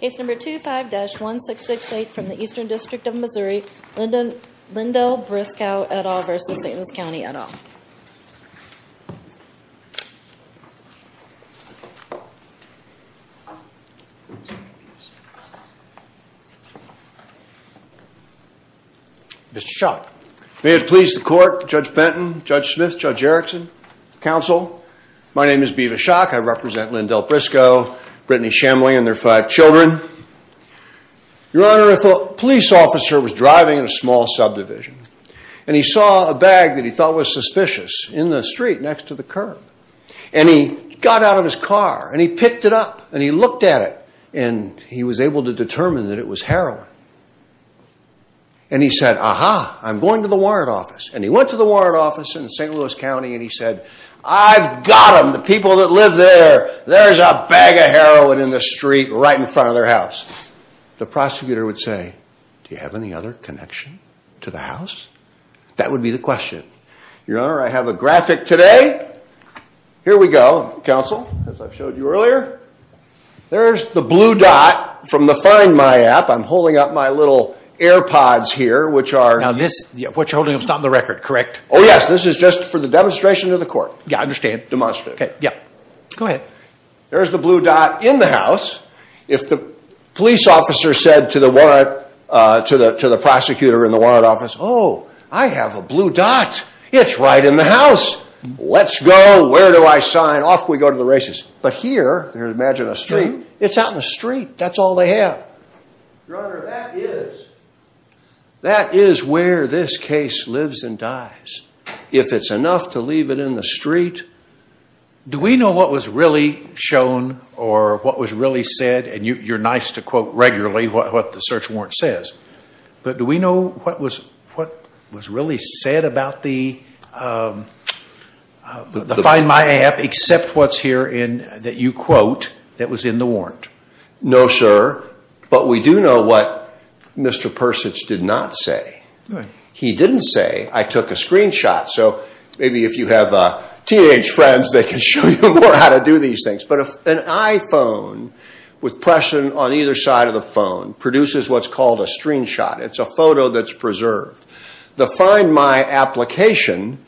Case number 25-1668 from the Eastern District of Missouri, Lindell Briscoe et al. v. St. Louis County et al. Mr. Schock. May it please the court, Judge Benton, Judge Smith, Judge Erickson, Counsel, my name is B.V. Schock, I represent Lindell Briscoe, Brittany Shemley and their five children. Your Honor, a police officer was driving in a small subdivision, and he saw a bag that he thought was suspicious in the street next to the curb. And he got out of his car, and he picked it up, and he looked at it, and he was able to determine that it was heroin. And he said, aha, I'm going to the warrant office. And he went to the warrant office in St. Louis County and he said, I've got them, the people that live there, there's a bag of heroin in the street right in front of their house. The prosecutor would say, do you have any other connection to the house? That would be the question. Your Honor, I have a graphic today. Here we go, Counsel, as I showed you earlier. There's the blue dot from the Find My app. I'm holding up my little AirPods here, which are... Now this, what you're holding up is not on the record, correct? Oh yes, this is just for the demonstration to the court. Yeah, I understand. Demonstrate. Okay, yeah, go ahead. There's the blue dot in the house. If the police officer said to the warrant, to the prosecutor in the warrant office, oh, I have a blue dot, it's right in the house. Let's go, where do I sign, off we go to the races. But here, imagine a street, it's out in the street, that's all they have. Your Honor, that is where this case lives and dies. If it's enough to leave it in the street... Do we know what was really shown or what was really said, and you're nice to quote regularly what the search warrant says, but do we know what was really said about the Find My app, except what's here that you quote that was in the warrant? No, sir, but we do know what Mr. Persich did not say. He didn't say, I took a screenshot, so maybe if you have teenage friends, they can show you more how to do these things. But an iPhone with pressure on either side of the phone produces what's called a screenshot. It's a photo that's preserved. The Find My application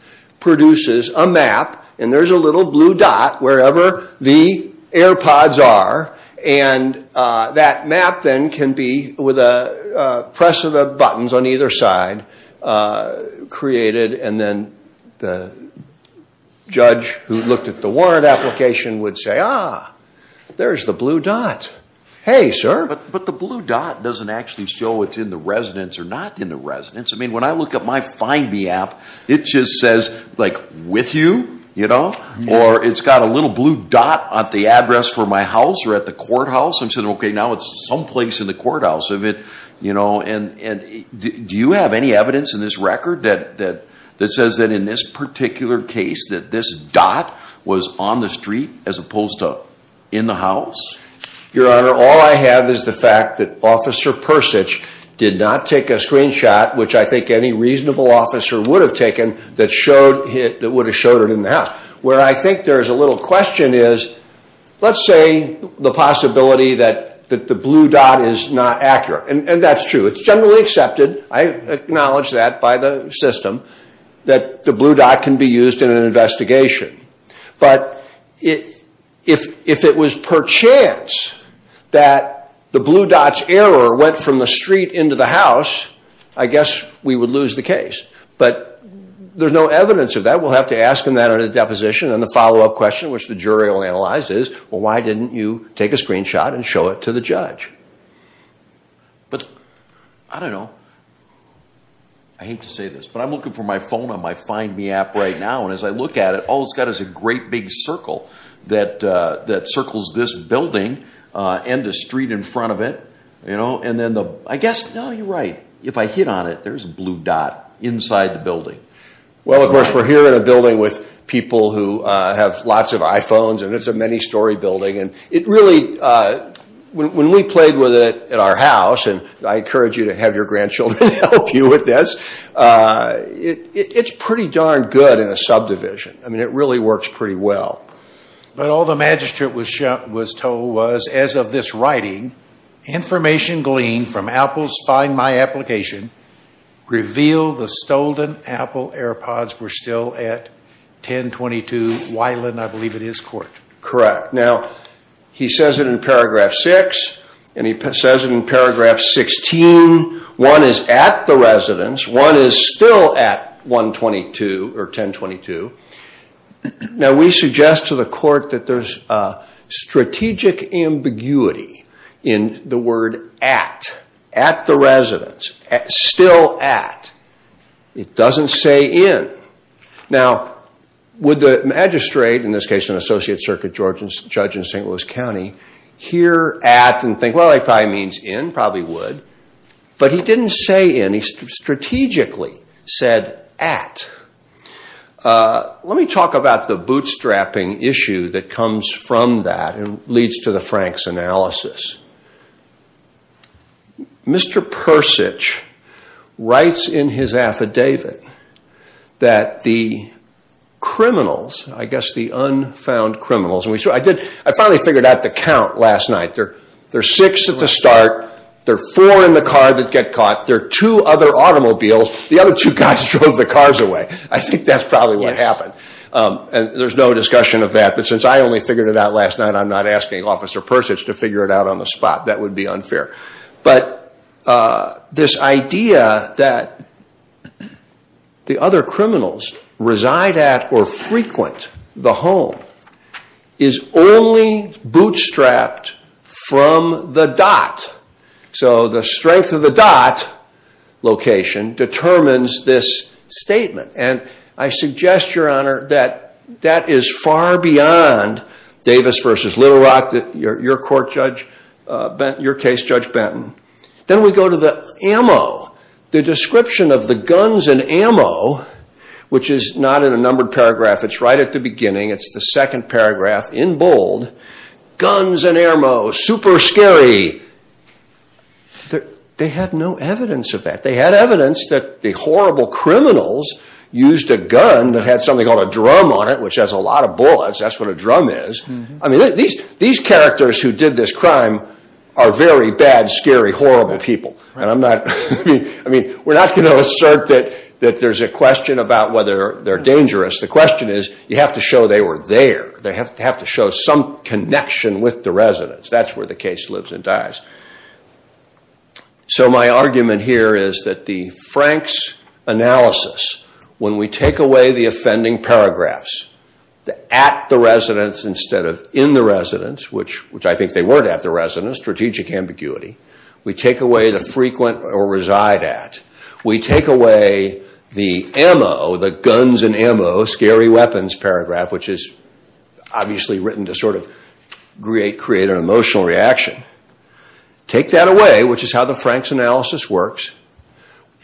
produces a map, and there's a little blue dot wherever the AirPods are, and that map then can be, with a press of the buttons on either side, created, and then the judge who looked at the warrant application would say, ah, there's the blue dot. Hey, sir. But the blue dot doesn't actually show it's in the residence or not in the residence. I mean, when I look at my Find Me app, it just says, like, with you, you know, or it's got a little blue dot at the address for my house or at the courthouse. I'm saying, okay, now it's someplace in the courthouse. You know, and do you have any evidence in this record that says that in this particular case that this dot was on the street as opposed to in the house? Your Honor, all I have is the fact that Officer Persich did not take a screenshot, which I think any reasonable officer would have taken, that would have showed it in the house. Where I think there's a little question is, let's say the possibility that the blue dot is not accurate, and that's true. It's generally accepted. I acknowledge that by the system, that the blue dot can be used in an investigation. But if it was perchance that the blue dot's error went from the street into the house, I guess we would lose the case. But there's no evidence of that. All right, we'll have to ask him that on his deposition. And the follow-up question, which the jury will analyze, is, well, why didn't you take a screenshot and show it to the judge? But I don't know. I hate to say this, but I'm looking for my phone on my Find Me app right now, and as I look at it, all it's got is a great big circle that circles this building and the street in front of it. And then the, I guess, no, you're right. If I hit on it, there's a blue dot inside the building. Well, of course, we're here in a building with people who have lots of iPhones, and it's a many-story building. And it really, when we played with it at our house, and I encourage you to have your grandchildren help you with this, it's pretty darn good in a subdivision. I mean, it really works pretty well. But all the magistrate was told was, as of this writing, information gleaned from Apple's Find My application revealed the Stolden Apple AirPods were still at 1022 Wylan, I believe it is, court. Correct. Now, he says it in paragraph 6, and he says it in paragraph 16. One is at the residence. One is still at 122 or 1022. Now, we suggest to the court that there's a strategic ambiguity in the word at, at the residence, still at. It doesn't say in. Now, would the magistrate, in this case an associate circuit judge in St. Louis County, hear at and think, well, it probably means in, probably would. But he didn't say in. He strategically said at. Let me talk about the bootstrapping issue that comes from that and leads to the Franks analysis. Mr. Persich writes in his affidavit that the criminals, I guess the unfound criminals, and I finally figured out the count last night. There are six at the start. There are four in the car that get caught. There are two other automobiles. The other two guys drove the cars away. I think that's probably what happened. And there's no discussion of that. But since I only figured it out last night, I'm not asking Officer Persich to figure it out on the spot. That would be unfair. But this idea that the other criminals reside at or frequent the home is only bootstrapped from the dot. So the strength of the dot location determines this statement. And I suggest, Your Honor, that that is far beyond Davis versus Little Rock, your case, Judge Benton. Then we go to the ammo. The description of the guns and ammo, which is not in a numbered paragraph. It's right at the beginning. It's the second paragraph in bold. Guns and ammo, super scary. They had no evidence of that. They had evidence that the horrible criminals used a gun that had something called a drum on it, which has a lot of bullets. That's what a drum is. I mean, these characters who did this crime are very bad, scary, horrible people. And I'm not, I mean, we're not going to assert that there's a question about whether they're dangerous. The question is you have to show they were there. They have to show some connection with the residents. That's where the case lives and dies. So my argument here is that the Frank's analysis, when we take away the offending paragraphs at the residents instead of in the residents, which I think they weren't at the residents, strategic ambiguity, we take away the frequent or reside at. We take away the ammo, the guns and ammo, scary weapons paragraph, which is obviously written to sort of create an emotional reaction. Take that away, which is how the Frank's analysis works.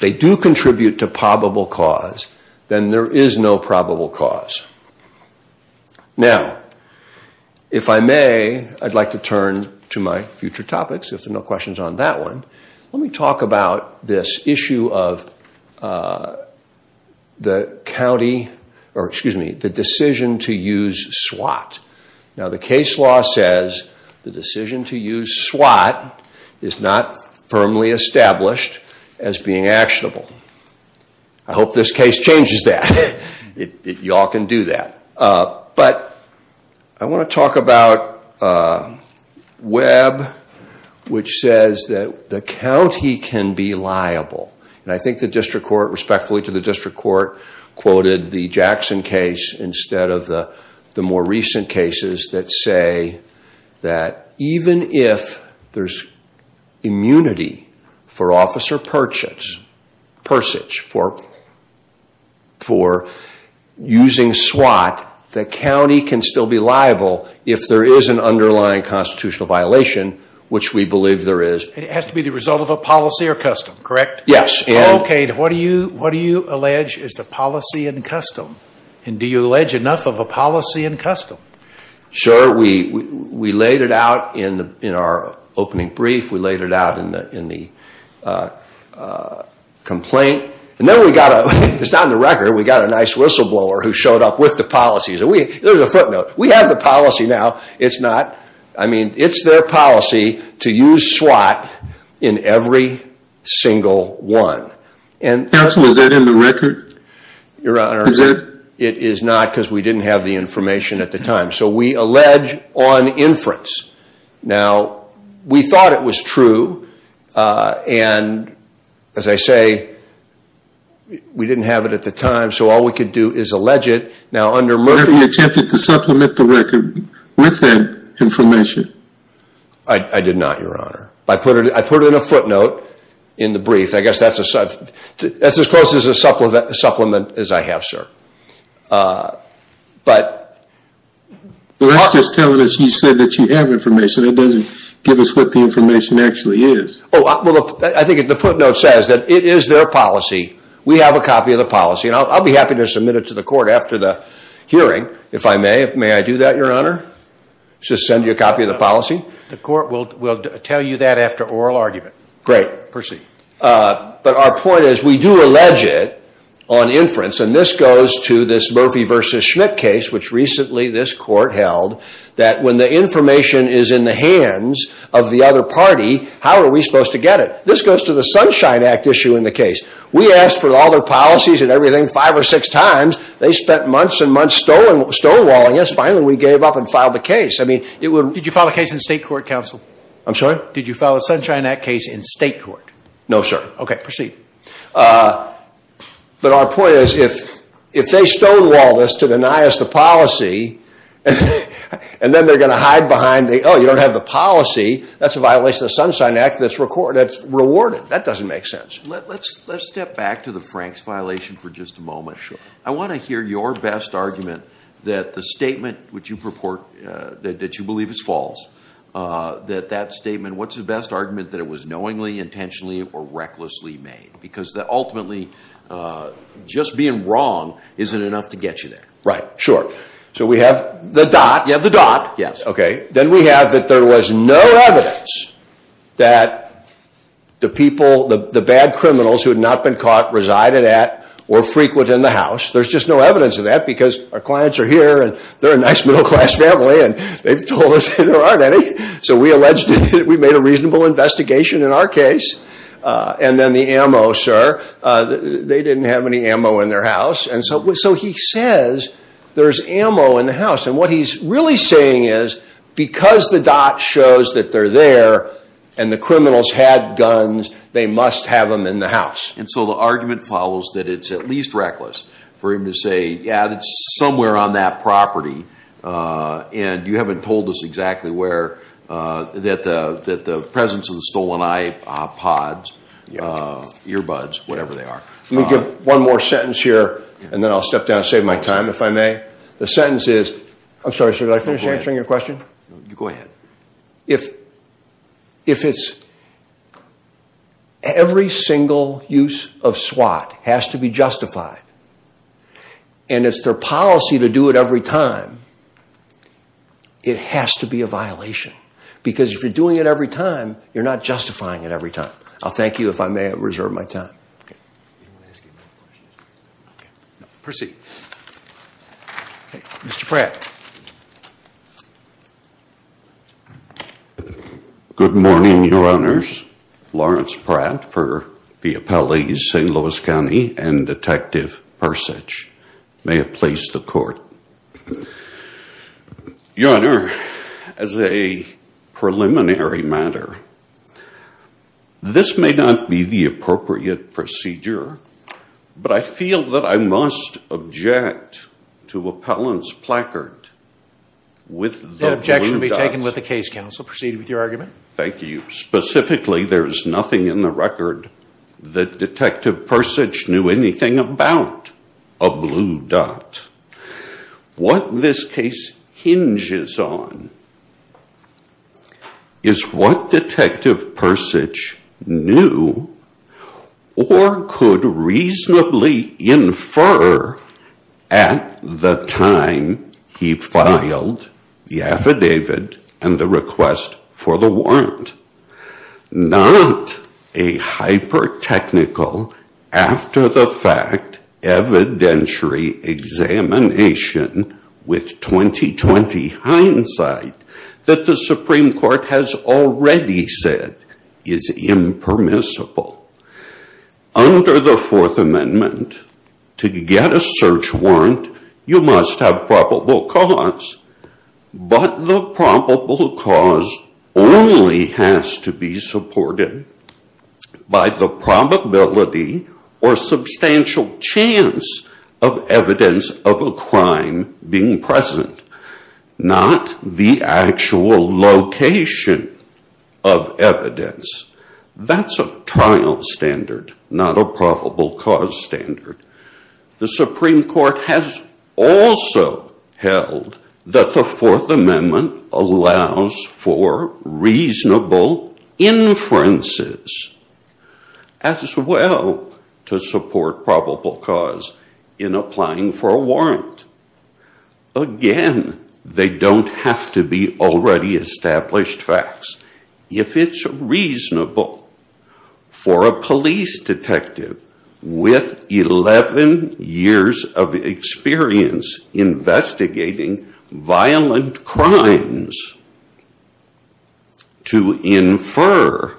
They do contribute to probable cause. Then there is no probable cause. Now, if I may, I'd like to turn to my future topics, if there are no questions on that one. Let me talk about this issue of the county, or excuse me, the decision to use SWAT. Now, the case law says the decision to use SWAT is not firmly established as being actionable. I hope this case changes that. Y'all can do that. I want to talk about Webb, which says that the county can be liable. I think the district court, respectfully to the district court, quoted the Jackson case instead of the more recent cases that say that even if there's immunity for officer purchase, for usage for using SWAT, the county can still be liable if there is an underlying constitutional violation, which we believe there is. It has to be the result of a policy or custom, correct? Yes. Okay. What do you allege is the policy and custom? Do you allege enough of a policy and custom? Sure. We laid it out in our opening brief. We laid it out in the complaint. And then we got a, it's not in the record, we got a nice whistleblower who showed up with the policies. There's a footnote. We have the policy now. It's not, I mean, it's their policy to use SWAT in every single one. Counsel, is that in the record? Your Honor, it is not because we didn't have the information at the time. So we allege on inference. Now, we thought it was true. And as I say, we didn't have it at the time. So all we could do is allege it. Now, under Murphy. Were you attempting to supplement the record with that information? I did not, Your Honor. I put in a footnote in the brief. I guess that's as close as a supplement as I have, sir. But. Well, that's just telling us you said that you have information. It doesn't give us what the information actually is. Oh, well, I think the footnote says that it is their policy. We have a copy of the policy. And I'll be happy to submit it to the court after the hearing, if I may. May I do that, Your Honor? Just send you a copy of the policy? The court will tell you that after oral argument. Great. Proceed. But our point is we do allege it on inference. And this goes to this Murphy versus Schmidt case, which recently this court held, that when the information is in the hands of the other party, how are we supposed to get it? This goes to the Sunshine Act issue in the case. We asked for all their policies and everything five or six times. They spent months and months stonewalling us. Finally, we gave up and filed the case. Did you file a case in state court, counsel? I'm sorry? Did you file a Sunshine Act case in state court? No, sir. Okay, proceed. But our point is if they stonewall this to deny us the policy, and then they're going to hide behind the, oh, you don't have the policy, that's a violation of the Sunshine Act that's rewarded. That doesn't make sense. Let's step back to the Franks violation for just a moment. Sure. I want to hear your best argument that the statement that you believe is false, that that statement, what's the best argument that it was knowingly, intentionally, or recklessly made? Because ultimately just being wrong isn't enough to get you there. Right. Sure. So we have the dot. You have the dot. Yes. Okay. Then we have that there was no evidence that the people, the bad criminals who had not been caught resided at or frequent in the house. There's just no evidence of that because our clients are here, and they're a nice middle-class family, and they've told us there aren't any. So we alleged that we made a reasonable investigation in our case. And then the ammo, sir, they didn't have any ammo in their house. And so he says there's ammo in the house. And what he's really saying is because the dot shows that they're there and the criminals had guns, they must have them in the house. And so the argument follows that it's at least reckless for him to say, yeah, it's somewhere on that property, and you haven't told us exactly where, that the presence of the stolen iPods, earbuds, whatever they are. Let me give one more sentence here, and then I'll step down and save my time if I may. The sentence is, I'm sorry, sir, did I finish answering your question? Go ahead. If it's every single use of SWAT has to be justified, and it's their policy to do it every time, it has to be a violation. Because if you're doing it every time, you're not justifying it every time. I'll thank you if I may reserve my time. Proceed. Mr. Pratt. Good morning, Your Honors. Lawrence Pratt for the appellees, St. Louis County, and Detective Persich. May it please the Court. Your Honor, as a preliminary matter, this may not be the appropriate procedure, but I feel that I must object to appellant's placard with the blue dots. That objection will be taken with the case, Counsel. Proceed with your argument. Thank you. Specifically, there is nothing in the record that Detective Persich knew anything about a blue dot. What this case hinges on is what Detective Persich knew or could reasonably infer at the time he filed the affidavit and the request for the warrant. Not a hyper-technical, after-the-fact, evidentiary examination with 20-20 hindsight that the Supreme Court has already said is impermissible. Under the Fourth Amendment, to get a search warrant, you must have probable cause. But the probable cause only has to be supported by the probability or substantial chance of evidence of a crime being present, not the actual location of evidence. That's a trial standard, not a probable cause standard. The Supreme Court has also held that the Fourth Amendment allows for reasonable inferences as well to support probable cause in applying for a warrant. Again, they don't have to be already established facts. If it's reasonable for a police detective with 11 years of experience investigating violent crimes to infer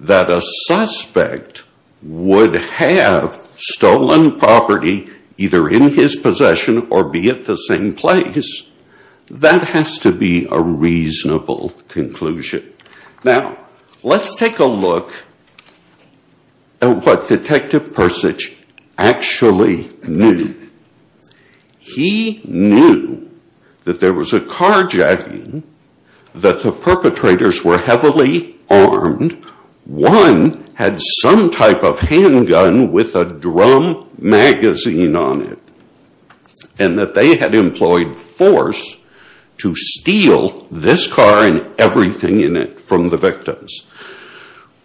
that a suspect would have stolen property either in his possession or be at the same place, that has to be a reasonable conclusion. Now, let's take a look at what Detective Persich actually knew. He knew that there was a carjacking, that the perpetrators were heavily armed, one had some type of handgun with a drum magazine on it, and that they had employed force to steal this car and everything in it from the victims.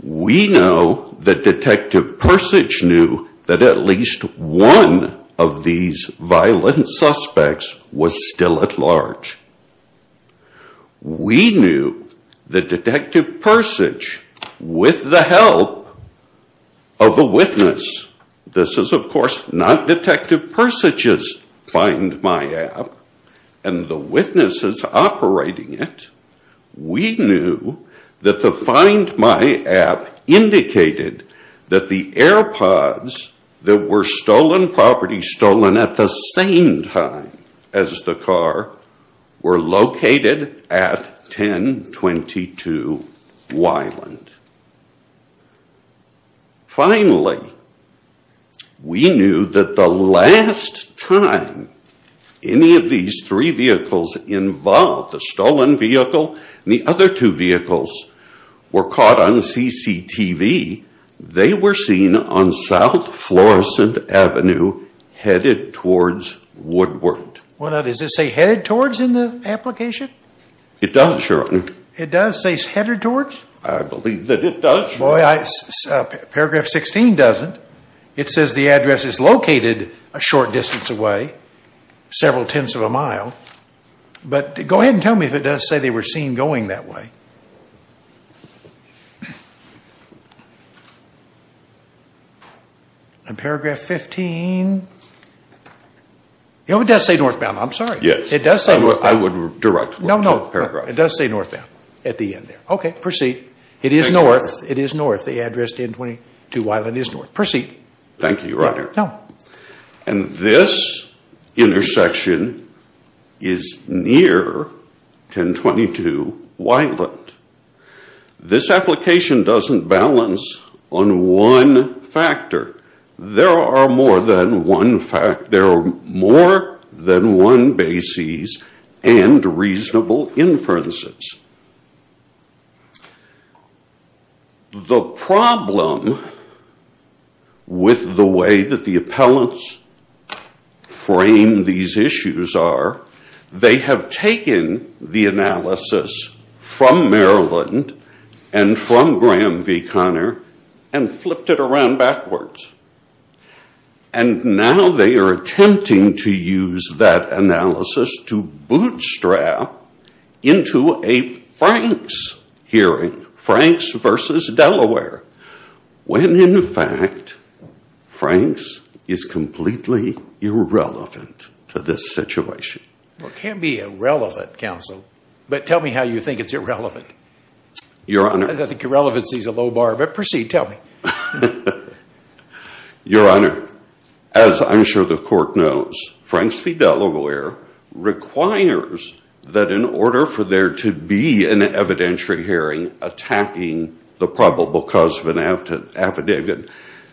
We know that Detective Persich knew that at least one of these violent suspects was still at large. We knew that Detective Persich, with the help of a witness, this is of course not Detective Persich's Find My app, and the witnesses operating it, we knew that the Find My app indicated that the air pods that were stolen property, stolen at the same time as the car, were located at 1022 Weiland. Finally, we knew that the last time any of these three vehicles involved, the stolen vehicle and the other two vehicles, were caught on CCTV, they were seen on South Florissant Avenue, headed towards Woodward. Well, does it say headed towards in the application? It does, your honor. It does say headed towards? I believe that it does, your honor. Paragraph 16 doesn't. It says the address is located a short distance away, several tenths of a mile. But go ahead and tell me if it does say they were seen going that way. In paragraph 15, it does say northbound. I'm sorry. Yes. It does say northbound. I would direct the paragraph. No, no. It does say northbound at the end there. Okay, proceed. It is north. It is north. The address 1022 Weiland is north. Thank you, your honor. No. And this intersection is near 1022 Weiland. This application doesn't balance on one factor. There are more than one basis and reasonable inferences. The problem with the way that the appellants frame these issues are they have taken the analysis from Maryland and from Graham v. Connor and flipped it around backwards. And now they are attempting to use that analysis to bootstrap into a Franks hearing, Franks v. Delaware, when in fact Franks is completely irrelevant to this situation. Well, it can't be irrelevant, counsel. But tell me how you think it's irrelevant. Your honor. I think irrelevancy is a low bar. But proceed. Tell me. Your honor, as I'm sure the court knows, Franks v. Delaware requires that in order for there to be an evidentiary hearing attacking the probable cause of an affidavit,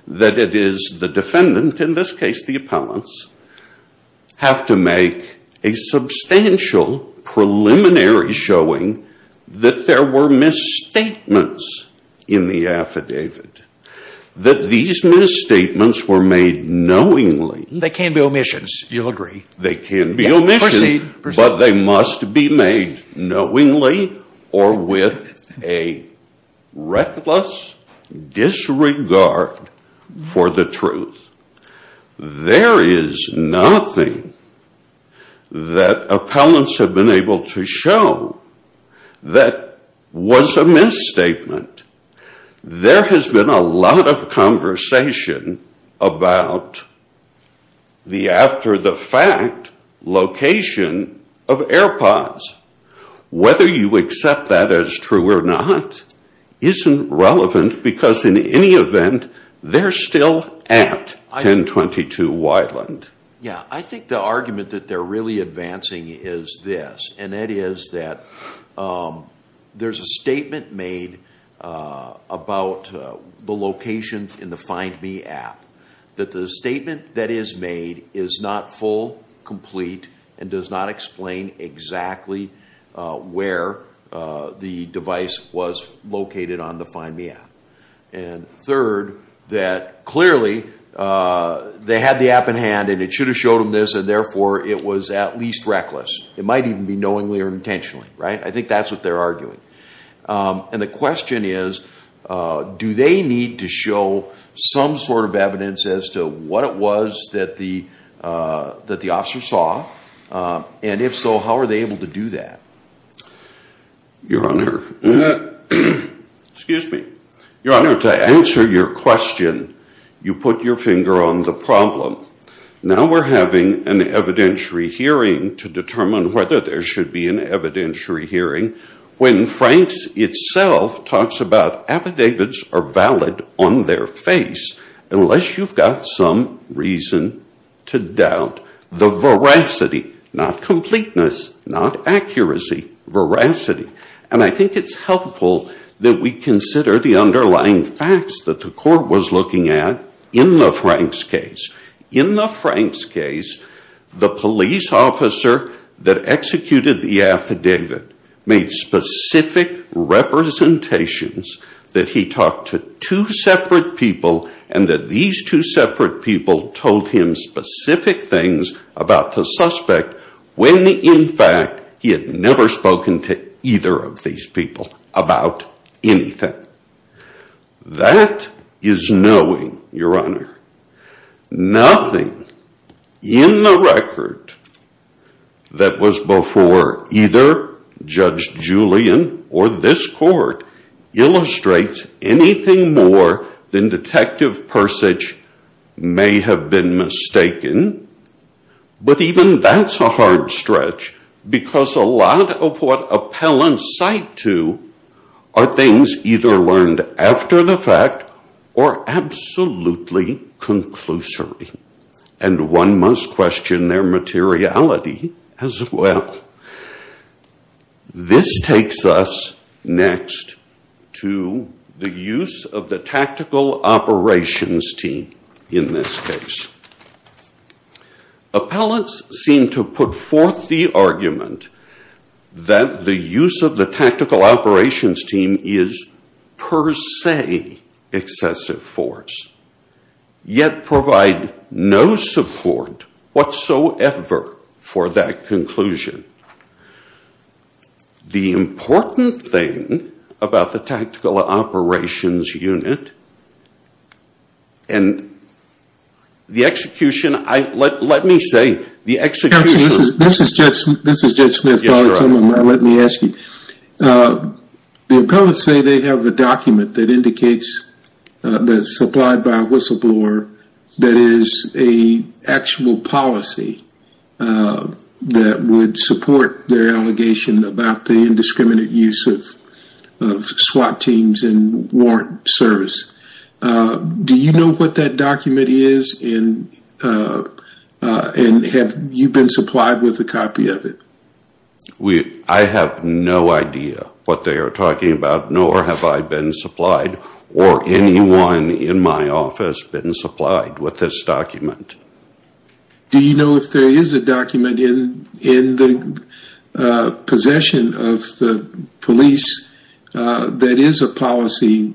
that it is the defendant, in this case the appellants, have to make a substantial preliminary showing that there were misstatements in the affidavit. That these misstatements were made knowingly. They can be omissions. You'll agree. They can be omissions. But they must be made knowingly or with a reckless disregard for the truth. There is nothing that appellants have been able to show that was a misstatement. There has been a lot of conversation about the after the fact location of AirPods. Whether you accept that as true or not isn't relevant because in any event, they're still at 1022 Wyland. Yeah, I think the argument that they're really advancing is this. And that is that there's a statement made about the locations in the Find Me app. That the statement that is made is not full, complete, and does not explain exactly where the device was located on the Find Me app. And third, that clearly they had the app in hand and it should have showed them this and therefore it was at least reckless. It might even be knowingly or intentionally, right? I think that's what they're arguing. And the question is, do they need to show some sort of evidence as to what it was that the officer saw? And if so, how are they able to do that? Your Honor, to answer your question, you put your finger on the problem. Now we're having an evidentiary hearing to determine whether there should be an evidentiary hearing. When Franks itself talks about affidavits are valid on their face unless you've got some reason to doubt the veracity. Not completeness, not accuracy, veracity. And I think it's helpful that we consider the underlying facts that the court was looking at in the Franks case. In the Franks case, the police officer that executed the affidavit made specific representations that he talked to two separate people. And that these two separate people told him specific things about the suspect when in fact he had never spoken to either of these people about anything. That is knowing, Your Honor. Nothing in the record that was before either Judge Julian or this court illustrates anything more than Detective Persich may have been mistaken. But even that's a hard stretch because a lot of what appellants cite to are things either learned after the fact or absolutely conclusory. And one must question their materiality as well. This takes us next to the use of the tactical operations team in this case. Appellants seem to put forth the argument that the use of the tactical operations team is per se excessive force. Yet provide no support whatsoever for that conclusion. The important thing about the tactical operations unit and the execution, let me say, the execution. That would support their allegation about the indiscriminate use of SWAT teams and warrant service. Do you know what that document is and have you been supplied with a copy of it? I have no idea what they are talking about nor have I been supplied or anyone in my office been supplied with this document. Do you know if there is a document in the possession of the police that is a policy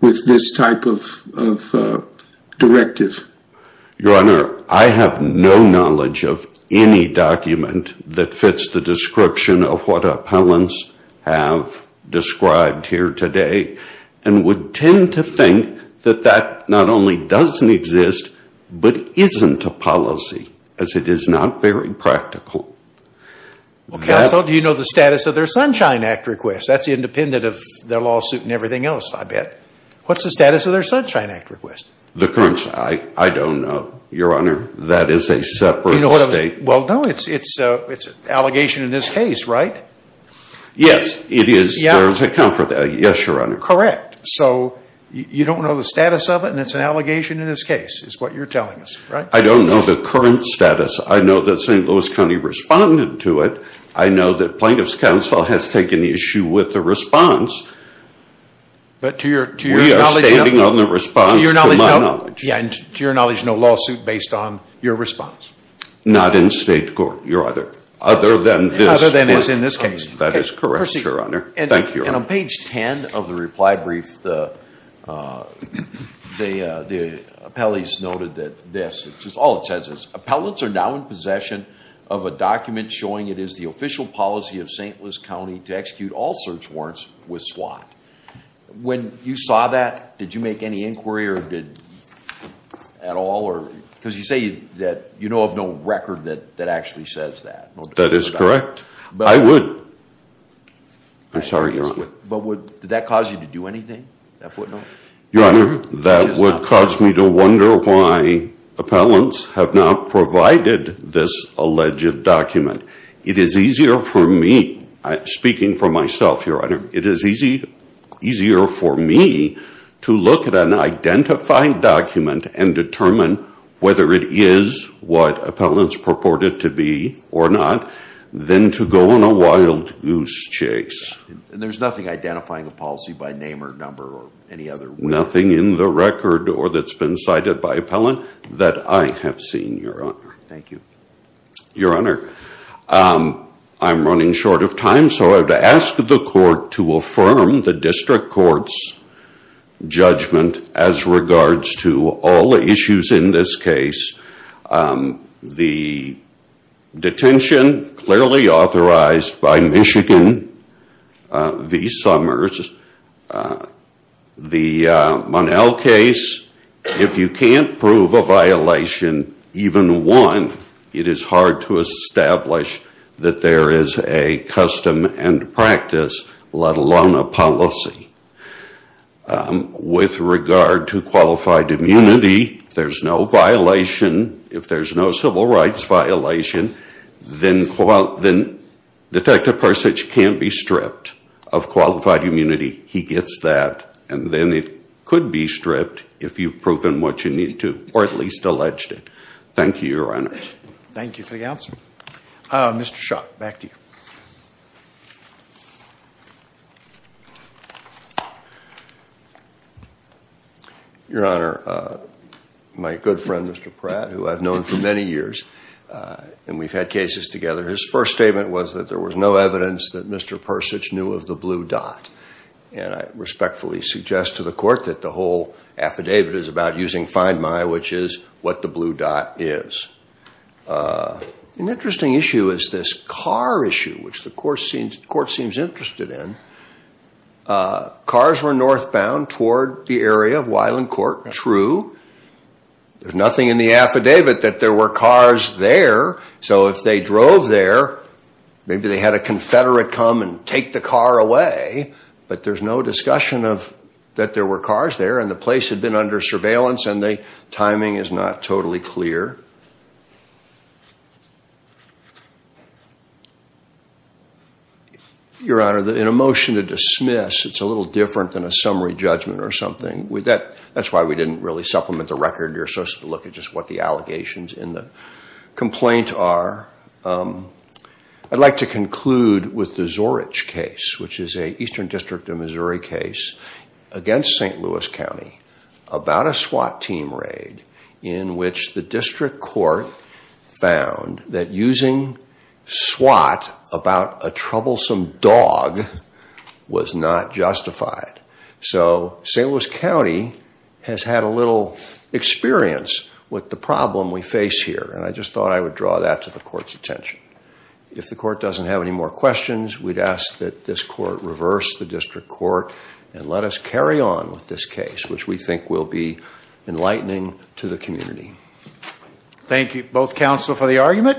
with this type of directive? Your Honor, I have no knowledge of any document that fits the description of what appellants have described here today. And would tend to think that that not only doesn't exist but isn't a policy as it is not very practical. Counsel, do you know the status of their Sunshine Act request? That's independent of their lawsuit and everything else, I bet. What's the status of their Sunshine Act request? I don't know, Your Honor. That is a separate state. Well, no, it's an allegation in this case, right? Yes, it is. Yes, Your Honor. Correct, so you don't know the status of it and it's an allegation in this case is what you're telling us, right? I don't know the current status. I know that St. Louis County responded to it. I know that Plaintiff's Counsel has taken issue with the response. But to your knowledge... We are standing on the response to my knowledge. To your knowledge, no lawsuit based on your response? Not in state court, Your Honor. Other than this court. Other than is in this case. That is correct, Your Honor. Thank you, Your Honor. And on page 10 of the reply brief, the appellees noted that this, all it says is, Appellants are now in possession of a document showing it is the official policy of St. Louis County to execute all search warrants with SWAT. When you saw that, did you make any inquiry at all? Because you say that you know of no record that actually says that. That is correct. I would. I'm sorry, Your Honor. Did that cause you to do anything? Your Honor, that would cause me to wonder why appellants have not provided this alleged document. It is easier for me, speaking for myself, Your Honor, it is easier for me to look at an identified document and determine whether it is what appellants purported to be or not, than to go on a wild goose chase. And there's nothing identifying the policy by name or number or any other way? Nothing in the record or that's been cited by appellant that I have seen, Your Honor. Thank you. Your Honor, I'm running short of time, so I would ask the court to affirm the district court's judgment as regards to all the issues in this case. The detention clearly authorized by Michigan v. Summers. The Monell case, if you can't prove a violation, even one, it is hard to establish that there is a custom and practice, let alone a policy. With regard to qualified immunity, there's no violation. If there's no civil rights violation, then Detective Persich can't be stripped of qualified immunity. He gets that, and then it could be stripped if you've proven what you need to, or at least alleged it. Thank you, Your Honor. Thank you for the answer. Mr. Schock, back to you. Your Honor, my good friend, Mr. Pratt, who I've known for many years, and we've had cases together, his first statement was that there was no evidence that Mr. Persich knew of the blue dot. And I respectfully suggest to the court that the whole affidavit is about using find my, which is what the blue dot is. An interesting issue is this car issue, which the court seems interested in. Cars were northbound toward the area of Weiland Court, true. There's nothing in the affidavit that there were cars there, so if they drove there, maybe they had a Confederate come and take the car away, but there's no discussion that there were cars there, and the place had been under surveillance, and the timing is not totally clear. Your Honor, in a motion to dismiss, it's a little different than a summary judgment or something. That's why we didn't really supplement the record. You're supposed to look at just what the allegations in the complaint are. I'd like to conclude with the Zorich case, which is an Eastern District of Missouri case against St. Louis County about a SWAT team raid in which the district court found that using SWAT about a troublesome dog was not justified. So St. Louis County has had a little experience with the problem we face here, and I just thought I would draw that to the court's attention. If the court doesn't have any more questions, we'd ask that this court reverse the district court and let us carry on with this case, which we think will be enlightening to the community. Thank you, both counsel, for the argument.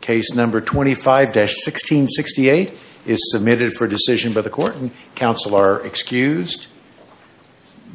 Case number 25-1668 is submitted for decision by the court, and counsel are excused.